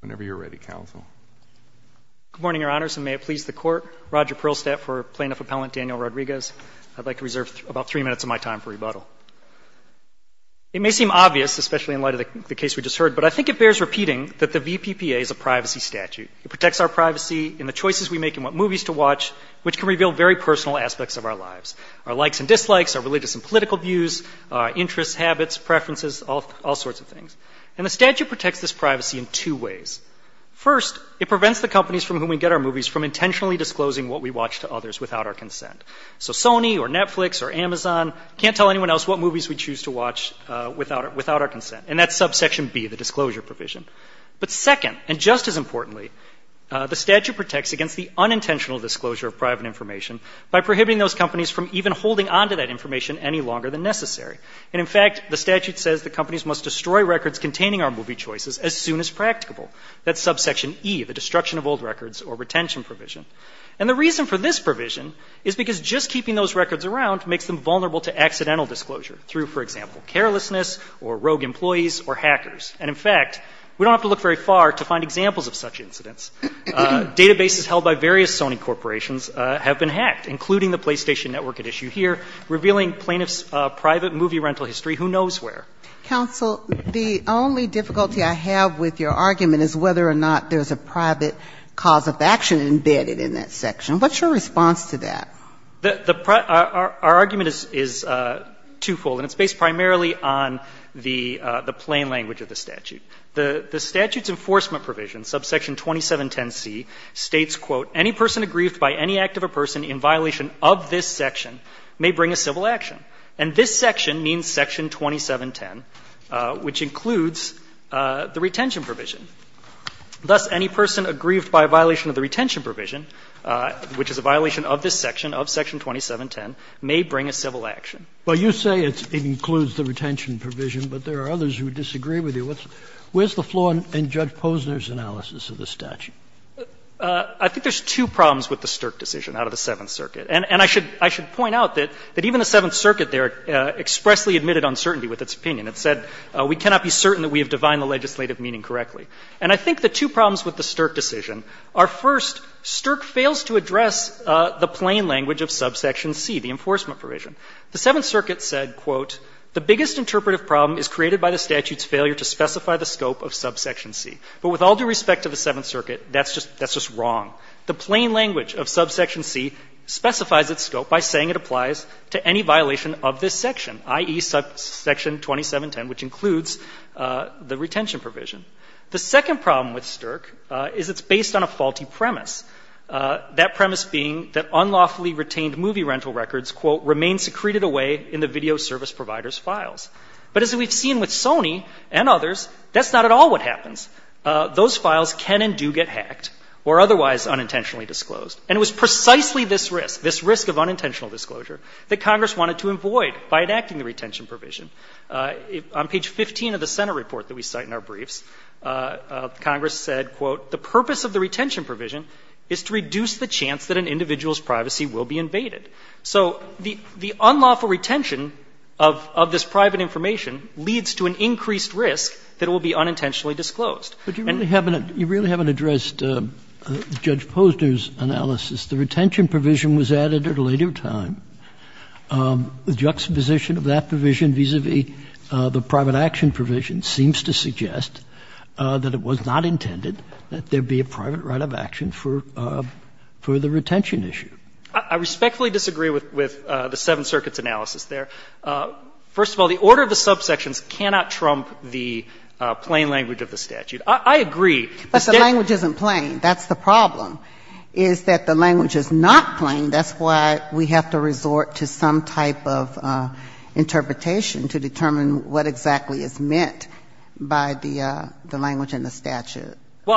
Whenever you're ready, counsel. Good morning, Your Honors, and may it please the Court. Roger Perlstadt for Plaintiff Appellant Daniel Rodriguez. I'd like to reserve about three minutes of my time for rebuttal. It may seem obvious, especially in light of the case we just heard, but I think it bears repeating that the VPPA is a privacy statute. It protects our privacy in the choices we make in what movies to watch, which can reveal very personal aspects of our lives. Our likes and dislikes, our religious and political views, interests, habits, preferences, all sorts of things. And the statute protects this privacy in two ways. First, it prevents the companies from whom we get our movies from intentionally disclosing what we watch to others without our consent. So Sony or Netflix or Amazon can't tell anyone else what movies we choose to watch without our consent. And that's subsection B, the disclosure provision. But second, and just as importantly, the statute protects against the unintentional disclosure of private information by prohibiting those companies from even holding onto that information any longer than necessary. And in fact, the statute says that companies must destroy records containing our movie choices as soon as practicable. That's subsection E, the destruction of old records or retention provision. And the reason for this provision is because just keeping those records around makes them vulnerable to accidental disclosure through, for example, carelessness or rogue employees or hackers. And in fact, we don't have to look very far to find examples of such incidents. Databases held by various Sony corporations have been hacked, including the PlayStation Network at issue here, revealing plaintiffs' private movie rental history who knows where. Ginsburg. The only difficulty I have with your argument is whether or not there's a private cause of action embedded in that section. What's your response to that? Our argument is twofold, and it's based primarily on the plain language of the statute. The statute's enforcement provision, subsection 2710C, states, quote, "'Any person aggrieved by any act of a person in violation of this section may bring a civil action.'" And this section means section 2710, which includes the retention provision. Thus, any person aggrieved by violation of the retention provision, which is a violation of this section, of section 2710, may bring a civil action. Well, you say it includes the retention provision, but there are others who disagree with you. Where's the flaw in Judge Posner's analysis of the statute? I think there's two problems with the Stirk decision out of the Seventh Circuit. And I should point out that even the Seventh Circuit there expressly admitted uncertainty with its opinion. It said, "'We cannot be certain that we have divined the legislative meaning correctly.'" And I think the two problems with the Stirk decision are, first, Stirk fails to address the plain language of subsection C, the enforcement provision. The Seventh Circuit said, quote, "'The biggest interpretive problem is created by the statute's failure to specify the scope of subsection C.' But with all due respect to the Seventh Circuit, that's just wrong. The plain language of subsection C specifies its scope by saying it applies to any violation of this section, i.e., section 2710, which includes the retention provision. The second problem with Stirk is it's based on a faulty premise, that premise being that unlawfully retained movie rental records, quote, "'remain secreted away in the video service provider's files.'" But as we've seen with Sony and others, that's not at all what happens. Those files can and do get hacked or otherwise unintentionally disclosed. And it was precisely this risk, this risk of unintentional disclosure, that Congress wanted to avoid by enacting the retention provision. On page 15 of the Senate report that we cite in our briefs, Congress said, quote, "'The purpose of the retention provision is to reduce the chance that an individual's privacy will be invaded.'" So the unlawful retention of this private information leads to an increased risk that it will be unintentionally disclosed. And you really haven't addressed Judge Posner's analysis. The retention provision was added at a later time. The juxtaposition of that provision vis-a-vis the private action provision seems to suggest that it was not intended that there be a private right of action for the retention issue. I respectfully disagree with the Seventh Circuit's analysis there. First of all, the order of the subsections cannot trump the plain language of the statute. I agree. But the language isn't plain. That's the problem, is that the language is not plain. That's why we have to resort to some type of interpretation to determine what exactly is meant by the language in the statute. Well,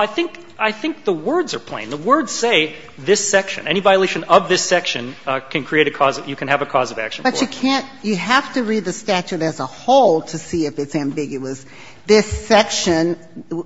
I think the words are plain. The words say this section. Any violation of this section can create a cause, you can have a cause of action But you can't, you have to read the statute as a whole to see if it's ambiguous. This section,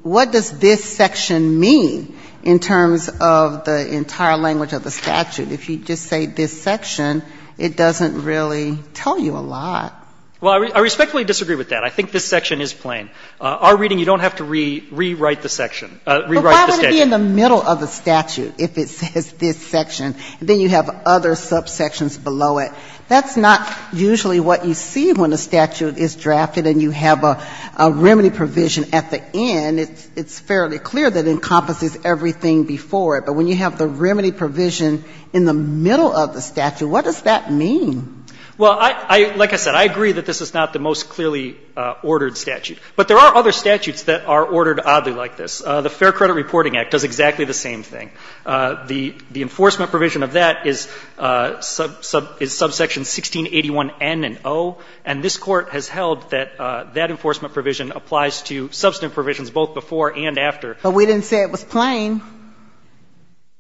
what does this section mean in terms of the entire language of the statute? If you just say this section, it doesn't really tell you a lot. Well, I respectfully disagree with that. I think this section is plain. Our reading, you don't have to rewrite the section, rewrite the statute. But why would it be in the middle of the statute if it says this section? Then you have other subsections below it. That's not usually what you see when a statute is drafted and you have a remedy provision at the end. It's fairly clear that it encompasses everything before it. But when you have the remedy provision in the middle of the statute, what does that mean? Well, I, like I said, I agree that this is not the most clearly ordered statute. But there are other statutes that are ordered oddly like this. The Fair Credit Reporting Act does exactly the same thing. The enforcement provision of that is subsection 1681N and O. And this Court has held that that enforcement provision applies to substantive provisions both before and after. But we didn't say it was plain.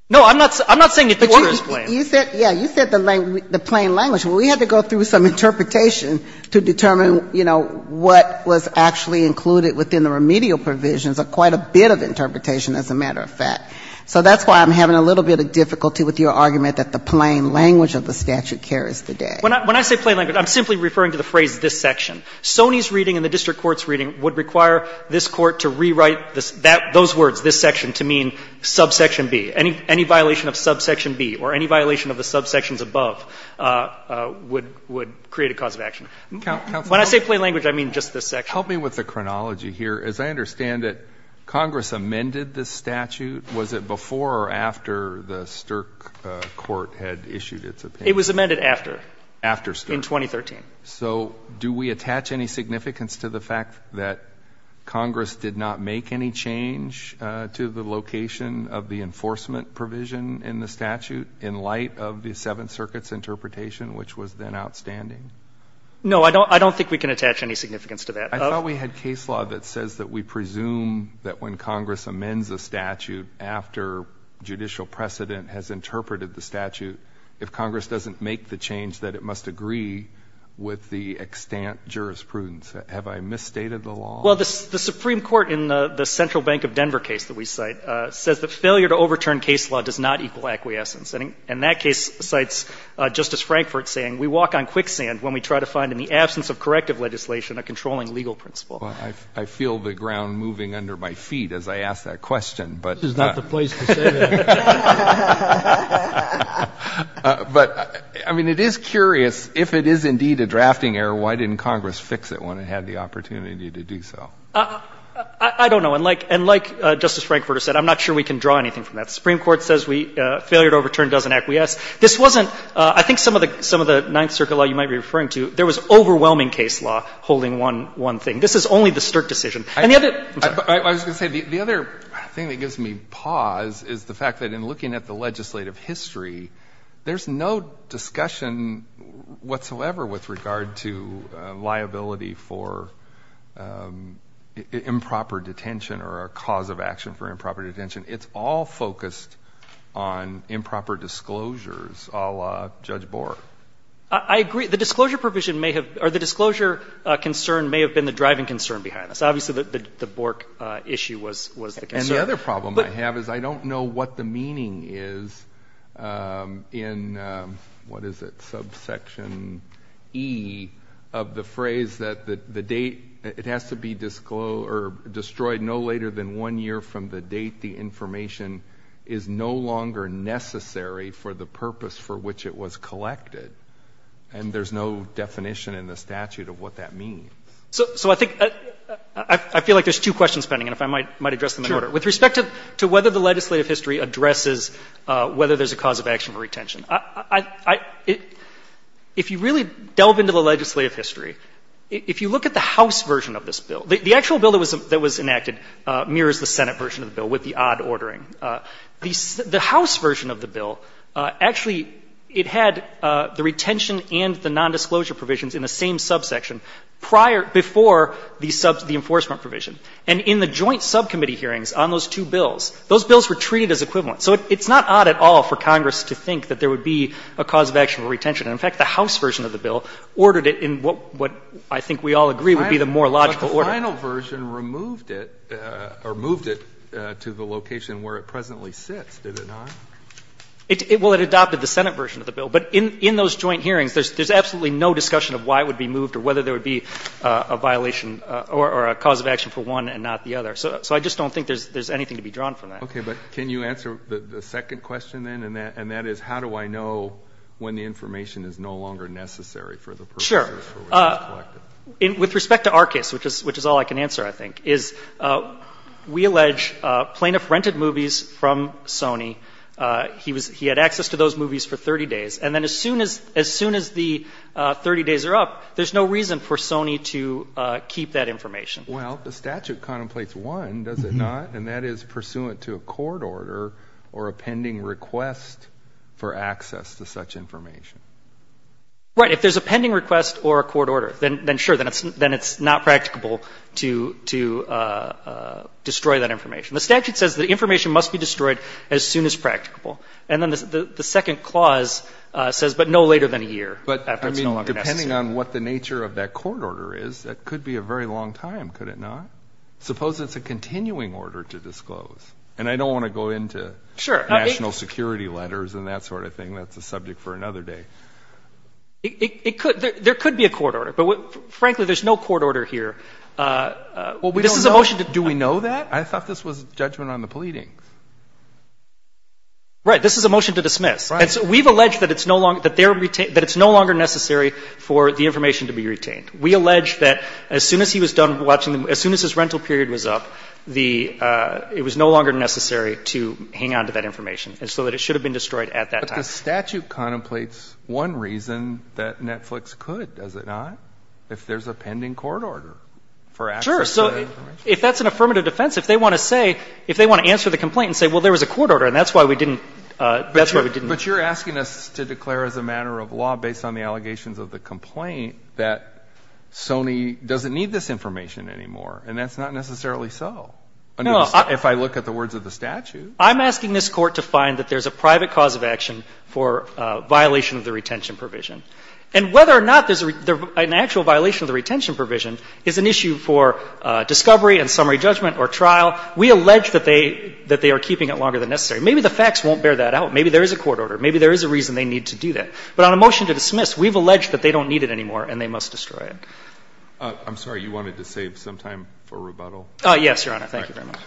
No, I'm not saying it wasn't plain. You said, yeah, you said the plain language. Well, we had to go through some interpretation to determine, you know, what was actually included within the remedial provisions, quite a bit of interpretation, as a matter of fact. So that's why I'm having a little bit of difficulty with your argument that the plain language of the statute carries the day. When I say plain language, I'm simply referring to the phrase this section. Sony's reading and the district court's reading would require this Court to rewrite those words, this section, to mean subsection B. Any violation of subsection B or any violation of the subsections above would create a cause of action. When I say plain language, I mean just this section. Help me with the chronology here. As I understand it, Congress amended this statute. Was it before or after the Stirk Court had issued its opinion? It was amended after. After Stirk? In 2013. So do we attach any significance to the fact that Congress did not make any change to the location of the enforcement provision in the statute in light of the Seventh Circuit's interpretation, which was then outstanding? No. I don't think we can attach any significance to that. I thought we had case law that says that we presume that when Congress amends a statute after judicial precedent has interpreted the statute, if Congress doesn't make the change, that it must agree with the extant jurisprudence. Have I misstated the law? Well, the Supreme Court in the Central Bank of Denver case that we cite says that failure to overturn case law does not equal acquiescence. And in that case, it cites Justice Frankfort saying we walk on quicksand when we try to find in the absence of corrective legislation a controlling legal principle. I feel the ground moving under my feet as I ask that question. This is not the place to say that. But, I mean, it is curious. If it is indeed a drafting error, why didn't Congress fix it when it had the opportunity to do so? I don't know. And like Justice Frankfort has said, I'm not sure we can draw anything from that. The Supreme Court says we, failure to overturn doesn't acquiesce. This wasn't, I think some of the Ninth Circuit law you might be referring to, there was overwhelming case law holding one thing. This is only the Stirk decision. And the other, I'm sorry. I was going to say, the other thing that gives me pause is the fact that in looking at the legislative history, there's no discussion whatsoever with regard to liability for improper detention or a cause of action for improper detention. It's all focused on improper disclosures, a la Judge Bork. I agree. The disclosure provision may have, or the disclosure concern may have been the driving concern behind this. Obviously, the Bork issue was the concern. And the other problem I have is I don't know what the meaning is in, what is it, subsection E of the phrase that the date, it has to be destroyed no later than one year from the date the information is no longer necessary for the purpose for which it was collected. And there's no definition in the statute of what that means. So I think, I feel like there's two questions pending, and if I might address them in order. Sure. With respect to whether the legislative history addresses whether there's a cause of action for retention. If you really delve into the legislative history, if you look at the House version of this bill, the actual bill that was enacted mirrors the Senate version of the bill with the odd ordering. The House version of the bill, actually it had the retention and the nondisclosure provisions in the same subsection prior, before the enforcement provision. And in the joint subcommittee hearings on those two bills, those bills were treated as equivalent. So it's not odd at all for Congress to think that there would be a cause of action for retention. And, in fact, the House version of the bill ordered it in what I think we all agree would be the more logical order. But the final version removed it or moved it to the location where it presently sits, did it not? Well, it adopted the Senate version of the bill. But in those joint hearings, there's absolutely no discussion of why it would be moved or whether there would be a violation or a cause of action for one and not the other. So I just don't think there's anything to be drawn from that. Okay. But can you answer the second question, then, and that is how do I know when the information is no longer necessary for the purposes for which it was collected? With respect to our case, which is all I can answer, I think, is we allege plaintiff rented movies from Sony. He had access to those movies for 30 days. And then as soon as the 30 days are up, there's no reason for Sony to keep that information. Well, the statute contemplates one, does it not, and that is pursuant to a court order or a pending request for access to such information. Right. If there's a pending request or a court order, then sure, then it's not practicable to destroy that information. The statute says that information must be destroyed as soon as practicable. And then the second clause says, but no later than a year after it's no longer necessary. But, I mean, depending on what the nature of that court order is, that could be a very long time, could it not? Suppose it's a continuing order to disclose. And I don't want to go into national security letters and that sort of thing. That's a subject for another day. There could be a court order. But, frankly, there's no court order here. Well, we don't know. Do we know that? I thought this was judgment on the pleadings. Right. This is a motion to dismiss. Right. And so we've alleged that it's no longer necessary for the information to be retained. We allege that as soon as he was done watching them, as soon as his rental period was up, it was no longer necessary to hang on to that information, so that it should have been destroyed at that time. But the statute contemplates one reason that Netflix could, does it not? If there's a pending court order for access to that information. Sure. So if that's an affirmative defense, if they want to say, if they want to answer the complaint and say, well, there was a court order and that's why we didn't, that's why we didn't. But you're asking us to declare as a matter of law, based on the allegations of the complaint, that Sony doesn't need this information anymore. And that's not necessarily so. No. If I look at the words of the statute. I'm asking this Court to find that there's a private cause of action for violation of the retention provision. And whether or not there's an actual violation of the retention provision is an issue for discovery and summary judgment or trial. We allege that they are keeping it longer than necessary. Maybe the facts won't bear that out. Maybe there is a court order. Maybe there is a reason they need to do that. But on a motion to dismiss, we've alleged that they don't need it anymore and they must destroy it. I'm sorry. You wanted to save some time for rebuttal? Yes, Your Honor. Thank you very much.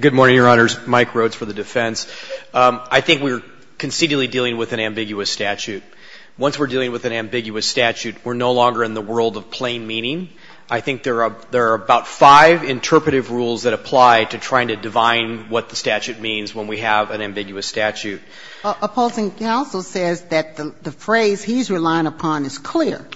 Good morning, Your Honors. Mike Rhodes for the defense. I think we're concedingly dealing with an ambiguous statute. Once we're dealing with an ambiguous statute, we're no longer in the world of plain meaning. I think there are about five interpretive rules that apply to trying to divine what the statute means when we have an ambiguous statute. Opposing counsel says that the phrase he's relying upon is clear.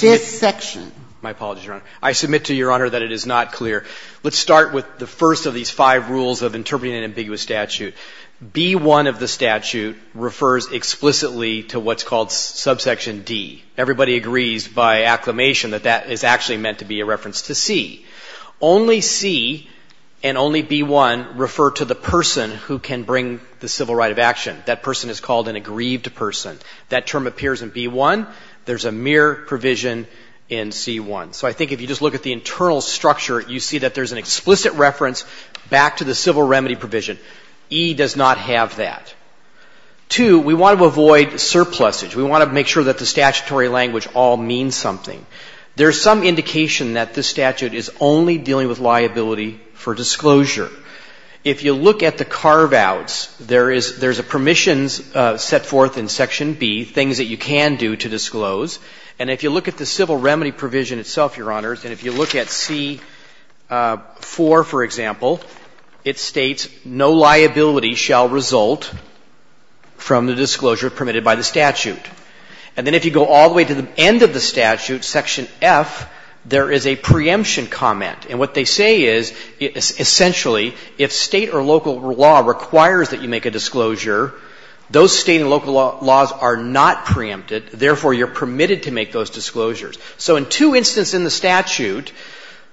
This section. My apologies, Your Honor. I submit to Your Honor that it is not clear. Let's start with the first of these five rules of interpreting an ambiguous statute. B-1 of the statute refers explicitly to what's called subsection D. Everybody agrees by acclamation that that is actually meant to be a reference to C. Only C and only B-1 refer to the person who can bring the civil right of action. That person is called an aggrieved person. That term appears in B-1. There's a mere provision in C-1. So I think if you just look at the internal structure, you see that there's an explicit reference back to the civil remedy provision. E does not have that. Two, we want to avoid surplusage. We want to make sure that the statutory language all means something. There's some indication that this statute is only dealing with liability for disclosure. If you look at the carve-outs, there is a permissions set forth in Section B, things that you can do to disclose. And if you look at the civil remedy provision itself, Your Honors, and if you look at C-4, for example, it states, No liability shall result from the disclosure permitted by the statute. And then if you go all the way to the end of the statute, Section F, there is a preemption comment. And what they say is, essentially, if State or local law requires that you make a disclosure, those State and local laws are not preempted. Therefore, you're permitted to make those disclosures. So in two instances in the statute,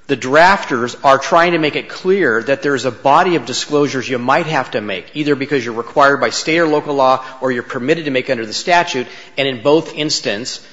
the drafters are trying to make it clear that there's a body of disclosures you might have to make, either because you're required by State or local law or you're permitted to make under the statute. And in both instances,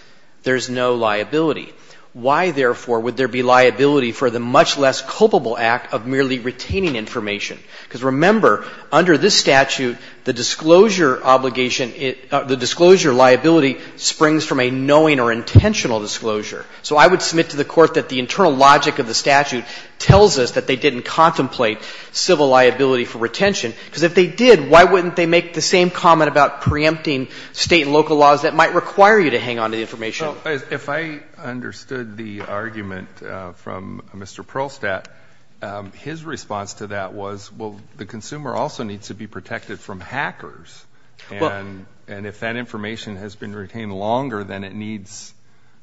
there's no liability. Why, therefore, would there be liability for the much less culpable act of merely retaining information? Because remember, under this statute, the disclosure obligation, the disclosure liability springs from a knowing or intentional disclosure. So I would submit to the Court that the internal logic of the statute tells us that they didn't contemplate civil liability for retention. Because if they did, why wouldn't they make the same comment about preempting State and local laws that might require you to hang on to the information? If I understood the argument from Mr. Perlstadt, his response to that was, well, the consumer also needs to be protected from hackers. And if that information has been retained longer than it needs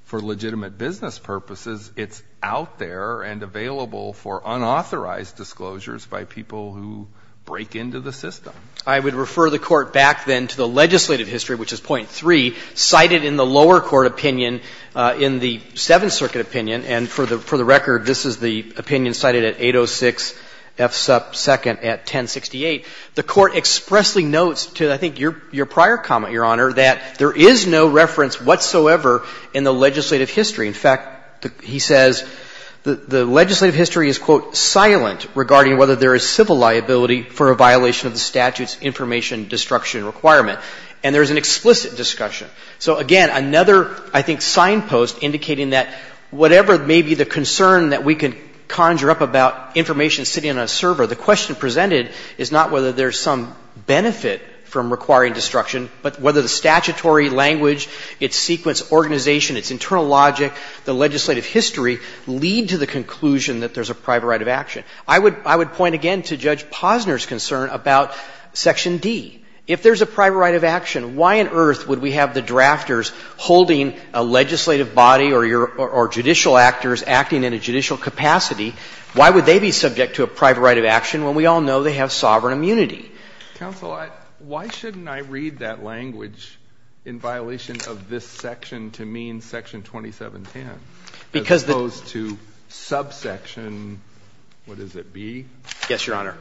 for legitimate business purposes, it's out there and available for unauthorized disclosures by people who break into the system. I would refer the Court back then to the legislative history, which is point 3, cited in the lower court opinion, in the Seventh Circuit opinion, and for the record this is the opinion cited at 806 F sub 2nd at 1068. The Court expressly notes to, I think, your prior comment, Your Honor, that there is no reference whatsoever in the legislative history. In fact, he says, the legislative history is, quote, silent regarding whether there is civil liability for a violation of the statute's information destruction requirement. And there is an explicit discussion. So, again, another, I think, signpost indicating that whatever may be the concern that we can conjure up about information sitting on a server, the question presented is not whether there's some benefit from requiring destruction, but whether the statutory language, its sequence organization, its internal logic, the legislative history lead to the conclusion that there's a private right of action. I would point again to Judge Posner's concern about Section D. If there's a private right of action, why on earth would we have the drafters holding a legislative body or judicial actors acting in a judicial capacity? Why would they be subject to a private right of action when we all know they have sovereign immunity? Counsel, why shouldn't I read that language in violation of this section to mean Section 2710, as opposed to subsection, what does it be? Yes, Your Honor.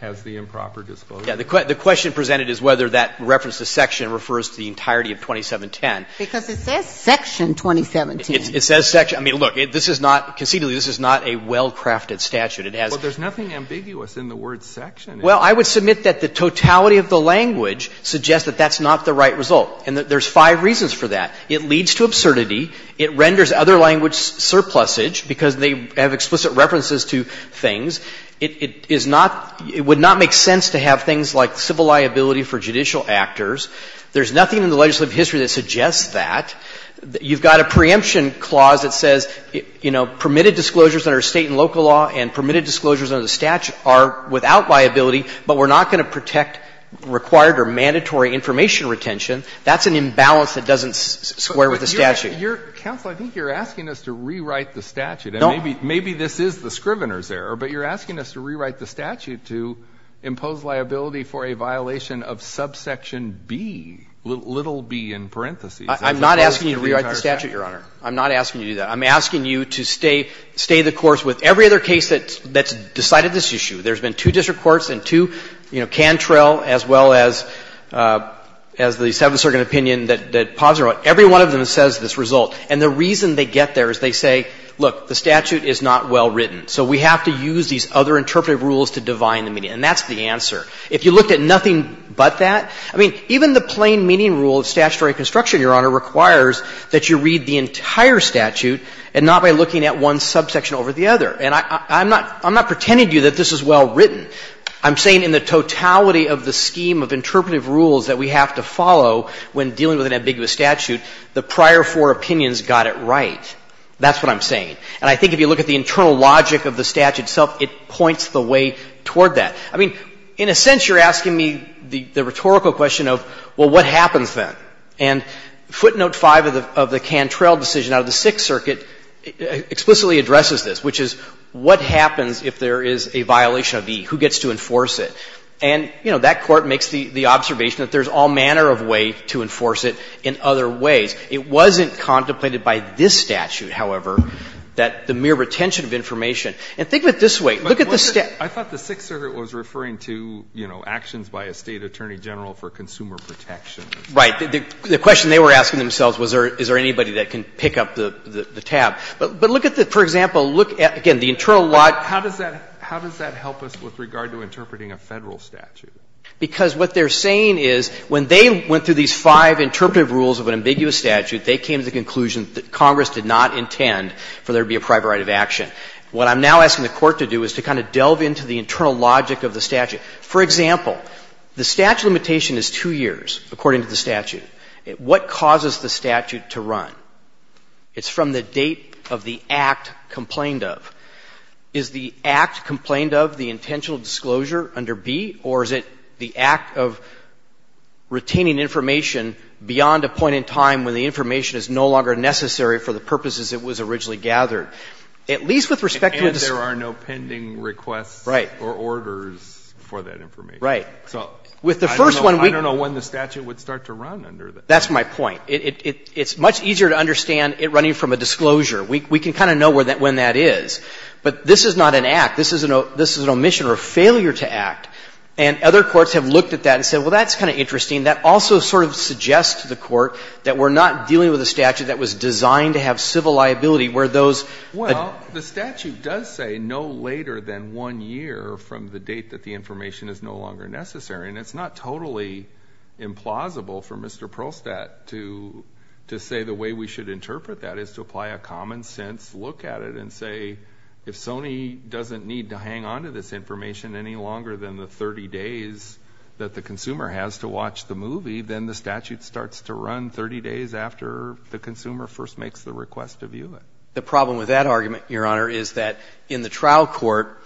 Has the improper disclosure. The question presented is whether that reference to section refers to the entirety of 2710. Because it says Section 2710. It says section. I mean, look, this is not, conceitually, this is not a well-crafted statute. It has. But there's nothing ambiguous in the word section. Well, I would submit that the totality of the language suggests that that's not the right result. And there's five reasons for that. It leads to absurdity. It renders other language surplusage because they have explicit references to things. It would not make sense to have things like civil liability for judicial actors. There's nothing in the legislative history that suggests that. You've got a preemption clause that says, you know, permitted disclosures under State and local law and permitted disclosures under the statute are without liability, but we're not going to protect required or mandatory information retention. That's an imbalance that doesn't square with the statute. Counsel, I think you're asking us to rewrite the statute. Maybe this is the Scrivener's error, but you're asking us to rewrite the statute to impose liability for a violation of subsection B, little b in parentheses. I'm not asking you to rewrite the statute, Your Honor. I'm not asking you to do that. I'm asking you to stay the course with every other case that's decided this issue. There's been two district courts and two, you know, Cantrell as well as the Seventh Circuit opinion that posited on it. Every one of them says this result. And the reason they get there is they say, look, the statute is not well written. So we have to use these other interpretive rules to divine the meaning. And that's the answer. If you looked at nothing but that, I mean, even the plain meaning rule of statutory construction, Your Honor, requires that you read the entire statute and not by looking at one subsection over the other. And I'm not pretending to you that this is well written. I'm saying in the totality of the scheme of interpretive rules that we have to follow when dealing with an ambiguous statute, the prior four opinions got it right. That's what I'm saying. And I think if you look at the internal logic of the statute itself, it points the way toward that. I mean, in a sense, you're asking me the rhetorical question of, well, what happens then? And footnote 5 of the Cantrell decision out of the Sixth Circuit explicitly addresses this, which is, what happens if there is a violation of E? Who gets to enforce it? And, you know, that Court makes the observation that there's all manner of way to enforce it in other ways. It wasn't contemplated by this statute, however, that the mere retention of information and think of it this way. Look at the statute. I thought the Sixth Circuit was referring to, you know, actions by a State attorney general for consumer protection. Right. The question they were asking themselves was, is there anybody that can pick up the tab. But look at the, for example, look at, again, the internal logic. How does that help us with regard to interpreting a Federal statute? Because what they're saying is, when they went through these five interpretive rules of an ambiguous statute, they came to the conclusion that Congress did not intend for there to be a private right of action. What I'm now asking the Court to do is to kind of delve into the internal logic of the statute. For example, the statute limitation is 2 years, according to the statute. What causes the statute to run? It's from the date of the act complained of. Is the act complained of the intentional disclosure under B, or is it the act of retaining information beyond a point in time when the information is no longer necessary for the purposes it was originally gathered? At least with respect to a disclosure. And there are no pending requests or orders for that information. Right. With the first one, we can't. I don't know when the statute would start to run under that. That's my point. It's much easier to understand it running from a disclosure. We can kind of know when that is. But this is not an act. This is an omission or a failure to act. And other courts have looked at that and said, well, that's kind of interesting. That also sort of suggests to the Court that we're not dealing with a statute that was designed to have civil liability where those. Well, the statute does say no later than 1 year from the date that the information is no longer necessary. And it's not totally implausible for Mr. Prostat to say the way we should interpret that is to apply a common sense look at it and say, if Sony doesn't need to hang on to this information any longer than the 30 days that the consumer has to watch the movie, then the statute starts to run 30 days after the consumer first makes the request to view it. The problem with that argument, Your Honor, is that in the trial court,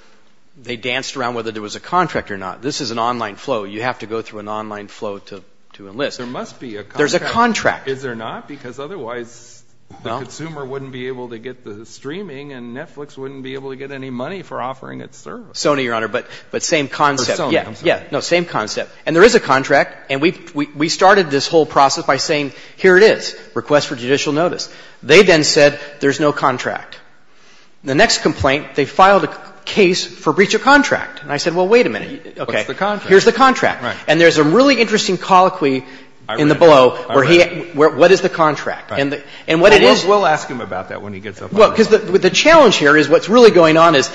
they danced around whether there was a contract or not. This is an online flow. You have to go through an online flow to enlist. There must be a contract. There's a contract. Is there not? Because otherwise the consumer wouldn't be able to get the streaming and Netflix wouldn't be able to get any money for offering its service. Sony, Your Honor, but same concept. Or Sony, I'm sorry. Yeah. No, same concept. And there is a contract. And we started this whole process by saying here it is, request for judicial notice. They then said there's no contract. The next complaint, they filed a case for breach of contract. And I said, well, wait a minute. What's the contract? Here's the contract. Right. And there's a really interesting colloquy in the below where he, what is the contract? And what it is. We'll ask him about that when he gets up on the floor. Well, because the challenge here is what's really going on is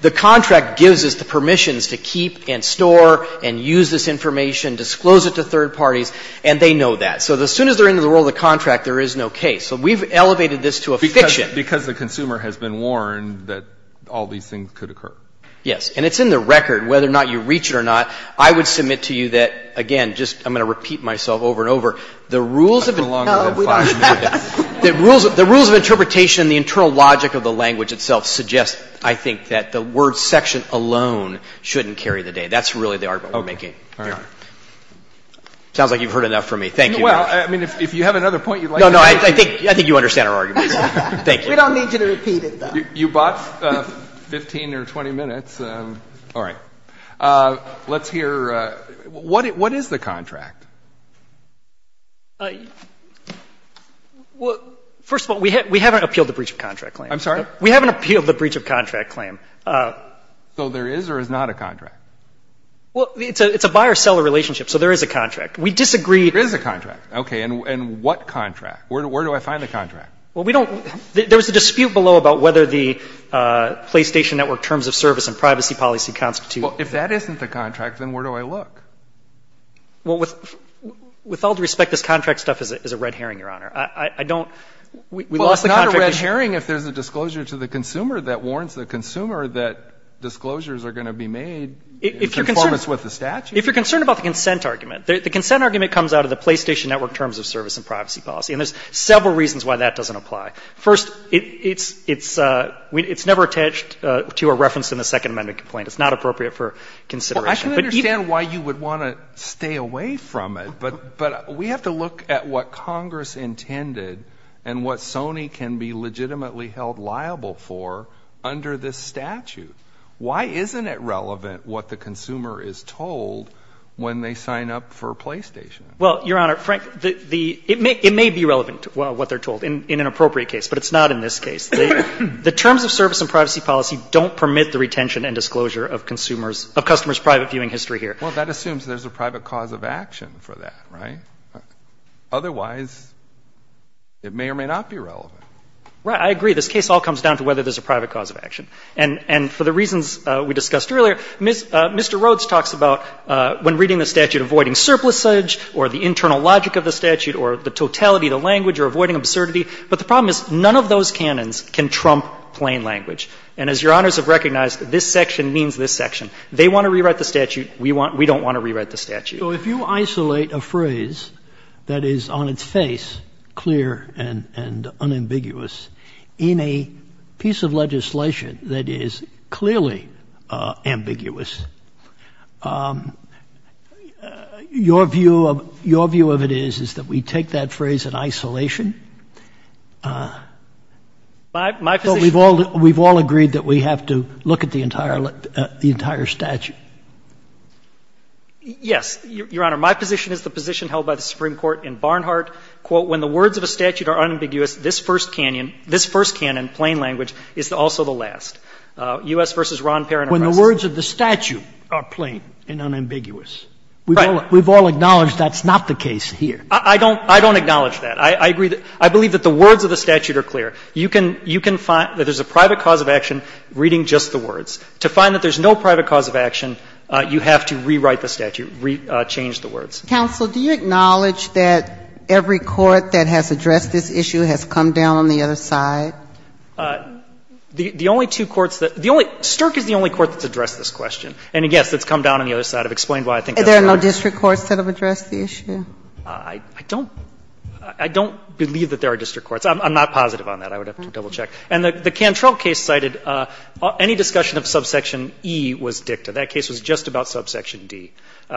the contract gives us the permissions to keep and store and use this information, disclose it to third parties, and they know that. So as soon as they're into the role of the contract, there is no case. So we've elevated this to a fiction. Because the consumer has been warned that all these things could occur. Yes. And it's in the record whether or not you reach it or not. I would submit to you that, again, just I'm going to repeat myself over and over. The rules of interpretation and the internal logic of the language itself suggests, I think, that the word section alone shouldn't carry the day. That's really the argument we're making. Okay. All right. Sounds like you've heard enough from me. Thank you. Well, I mean, if you have another point you'd like to make. No, no. I think you understand our argument. Thank you. We don't need you to repeat it, though. You bought 15 or 20 minutes. All right. Let's hear what is the contract? Well, first of all, we haven't appealed the breach of contract claim. I'm sorry? We haven't appealed the breach of contract claim. So there is or is not a contract? Well, it's a buyer-seller relationship. So there is a contract. We disagree. There is a contract. Okay. And what contract? Where do I find the contract? Well, we don't. There was a dispute below about whether the PlayStation Network terms of service and privacy policy constitute. Well, if that isn't the contract, then where do I look? Well, with all due respect, this contract stuff is a red herring, Your Honor. I don't — Well, it's not a red herring if there's a disclosure to the consumer that warrants the consumer that disclosures are going to be made in conformance with the statute. If you're concerned about the consent argument, the consent argument comes out of the PlayStation Network terms of service and privacy policy. And there's several reasons why that doesn't apply. First, it's never attached to a reference in the Second Amendment complaint. It's not appropriate for consideration. Well, I can understand why you would want to stay away from it. But we have to look at what Congress intended and what Sony can be legitimately held liable for under this statute. Why isn't it relevant what the consumer is told when they sign up for a PlayStation? Well, Your Honor, Frank, the — it may be relevant what they're told in an appropriate case, but it's not in this case. The terms of service and privacy policy don't permit the retention and disclosure of consumers — of customers' private viewing history here. Well, that assumes there's a private cause of action for that, right? Otherwise, it may or may not be relevant. Right. I agree. This case all comes down to whether there's a private cause of action. And for the reasons we discussed earlier, Mr. Rhodes talks about when reading the statute, avoiding surplusage or the internal logic of the statute or the totality of the language or avoiding absurdity. But the problem is none of those canons can trump plain language. And as Your Honors have recognized, this section means this section. They want to rewrite the statute. So if you isolate a phrase that is on its face, clear and unambiguous, in a piece of legislation that is clearly ambiguous, your view of — your view of it is, is that we take that phrase in isolation. My position — But we've all — we've all agreed that we have to look at the entire — the entire statute. Yes, Your Honor. My position is the position held by the Supreme Court in Barnhart. Quote, when the words of a statute are unambiguous, this first canon — this first canon, plain language, is also the last. U.S. v. Ron Perrin. When the words of the statute are plain and unambiguous. Right. We've all acknowledged that's not the case here. I don't — I don't acknowledge that. I agree that — I believe that the words of the statute are clear. You can — you can find that there's a private cause of action reading just the words. To find that there's no private cause of action, you have to rewrite the statute, re — change the words. Counsel, do you acknowledge that every court that has addressed this issue has come down on the other side? The — the only two courts that — the only — Stirk is the only court that's addressed this question. And, yes, it's come down on the other side. I've explained why I think that's right. Are there no district courts that have addressed the issue? I don't — I don't believe that there are district courts. I'm not positive on that. I would have to double-check. And the Cantrell case cited any discussion of subsection E was dicta. That case was just about subsection D.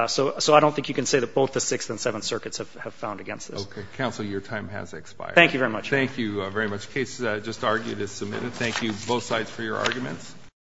So I don't think you can say that both the Sixth and Seventh Circuits have found against this. Okay. Counsel, your time has expired. Thank you very much. Thank you very much. The case just argued is submitted. Thank you, both sides, for your arguments.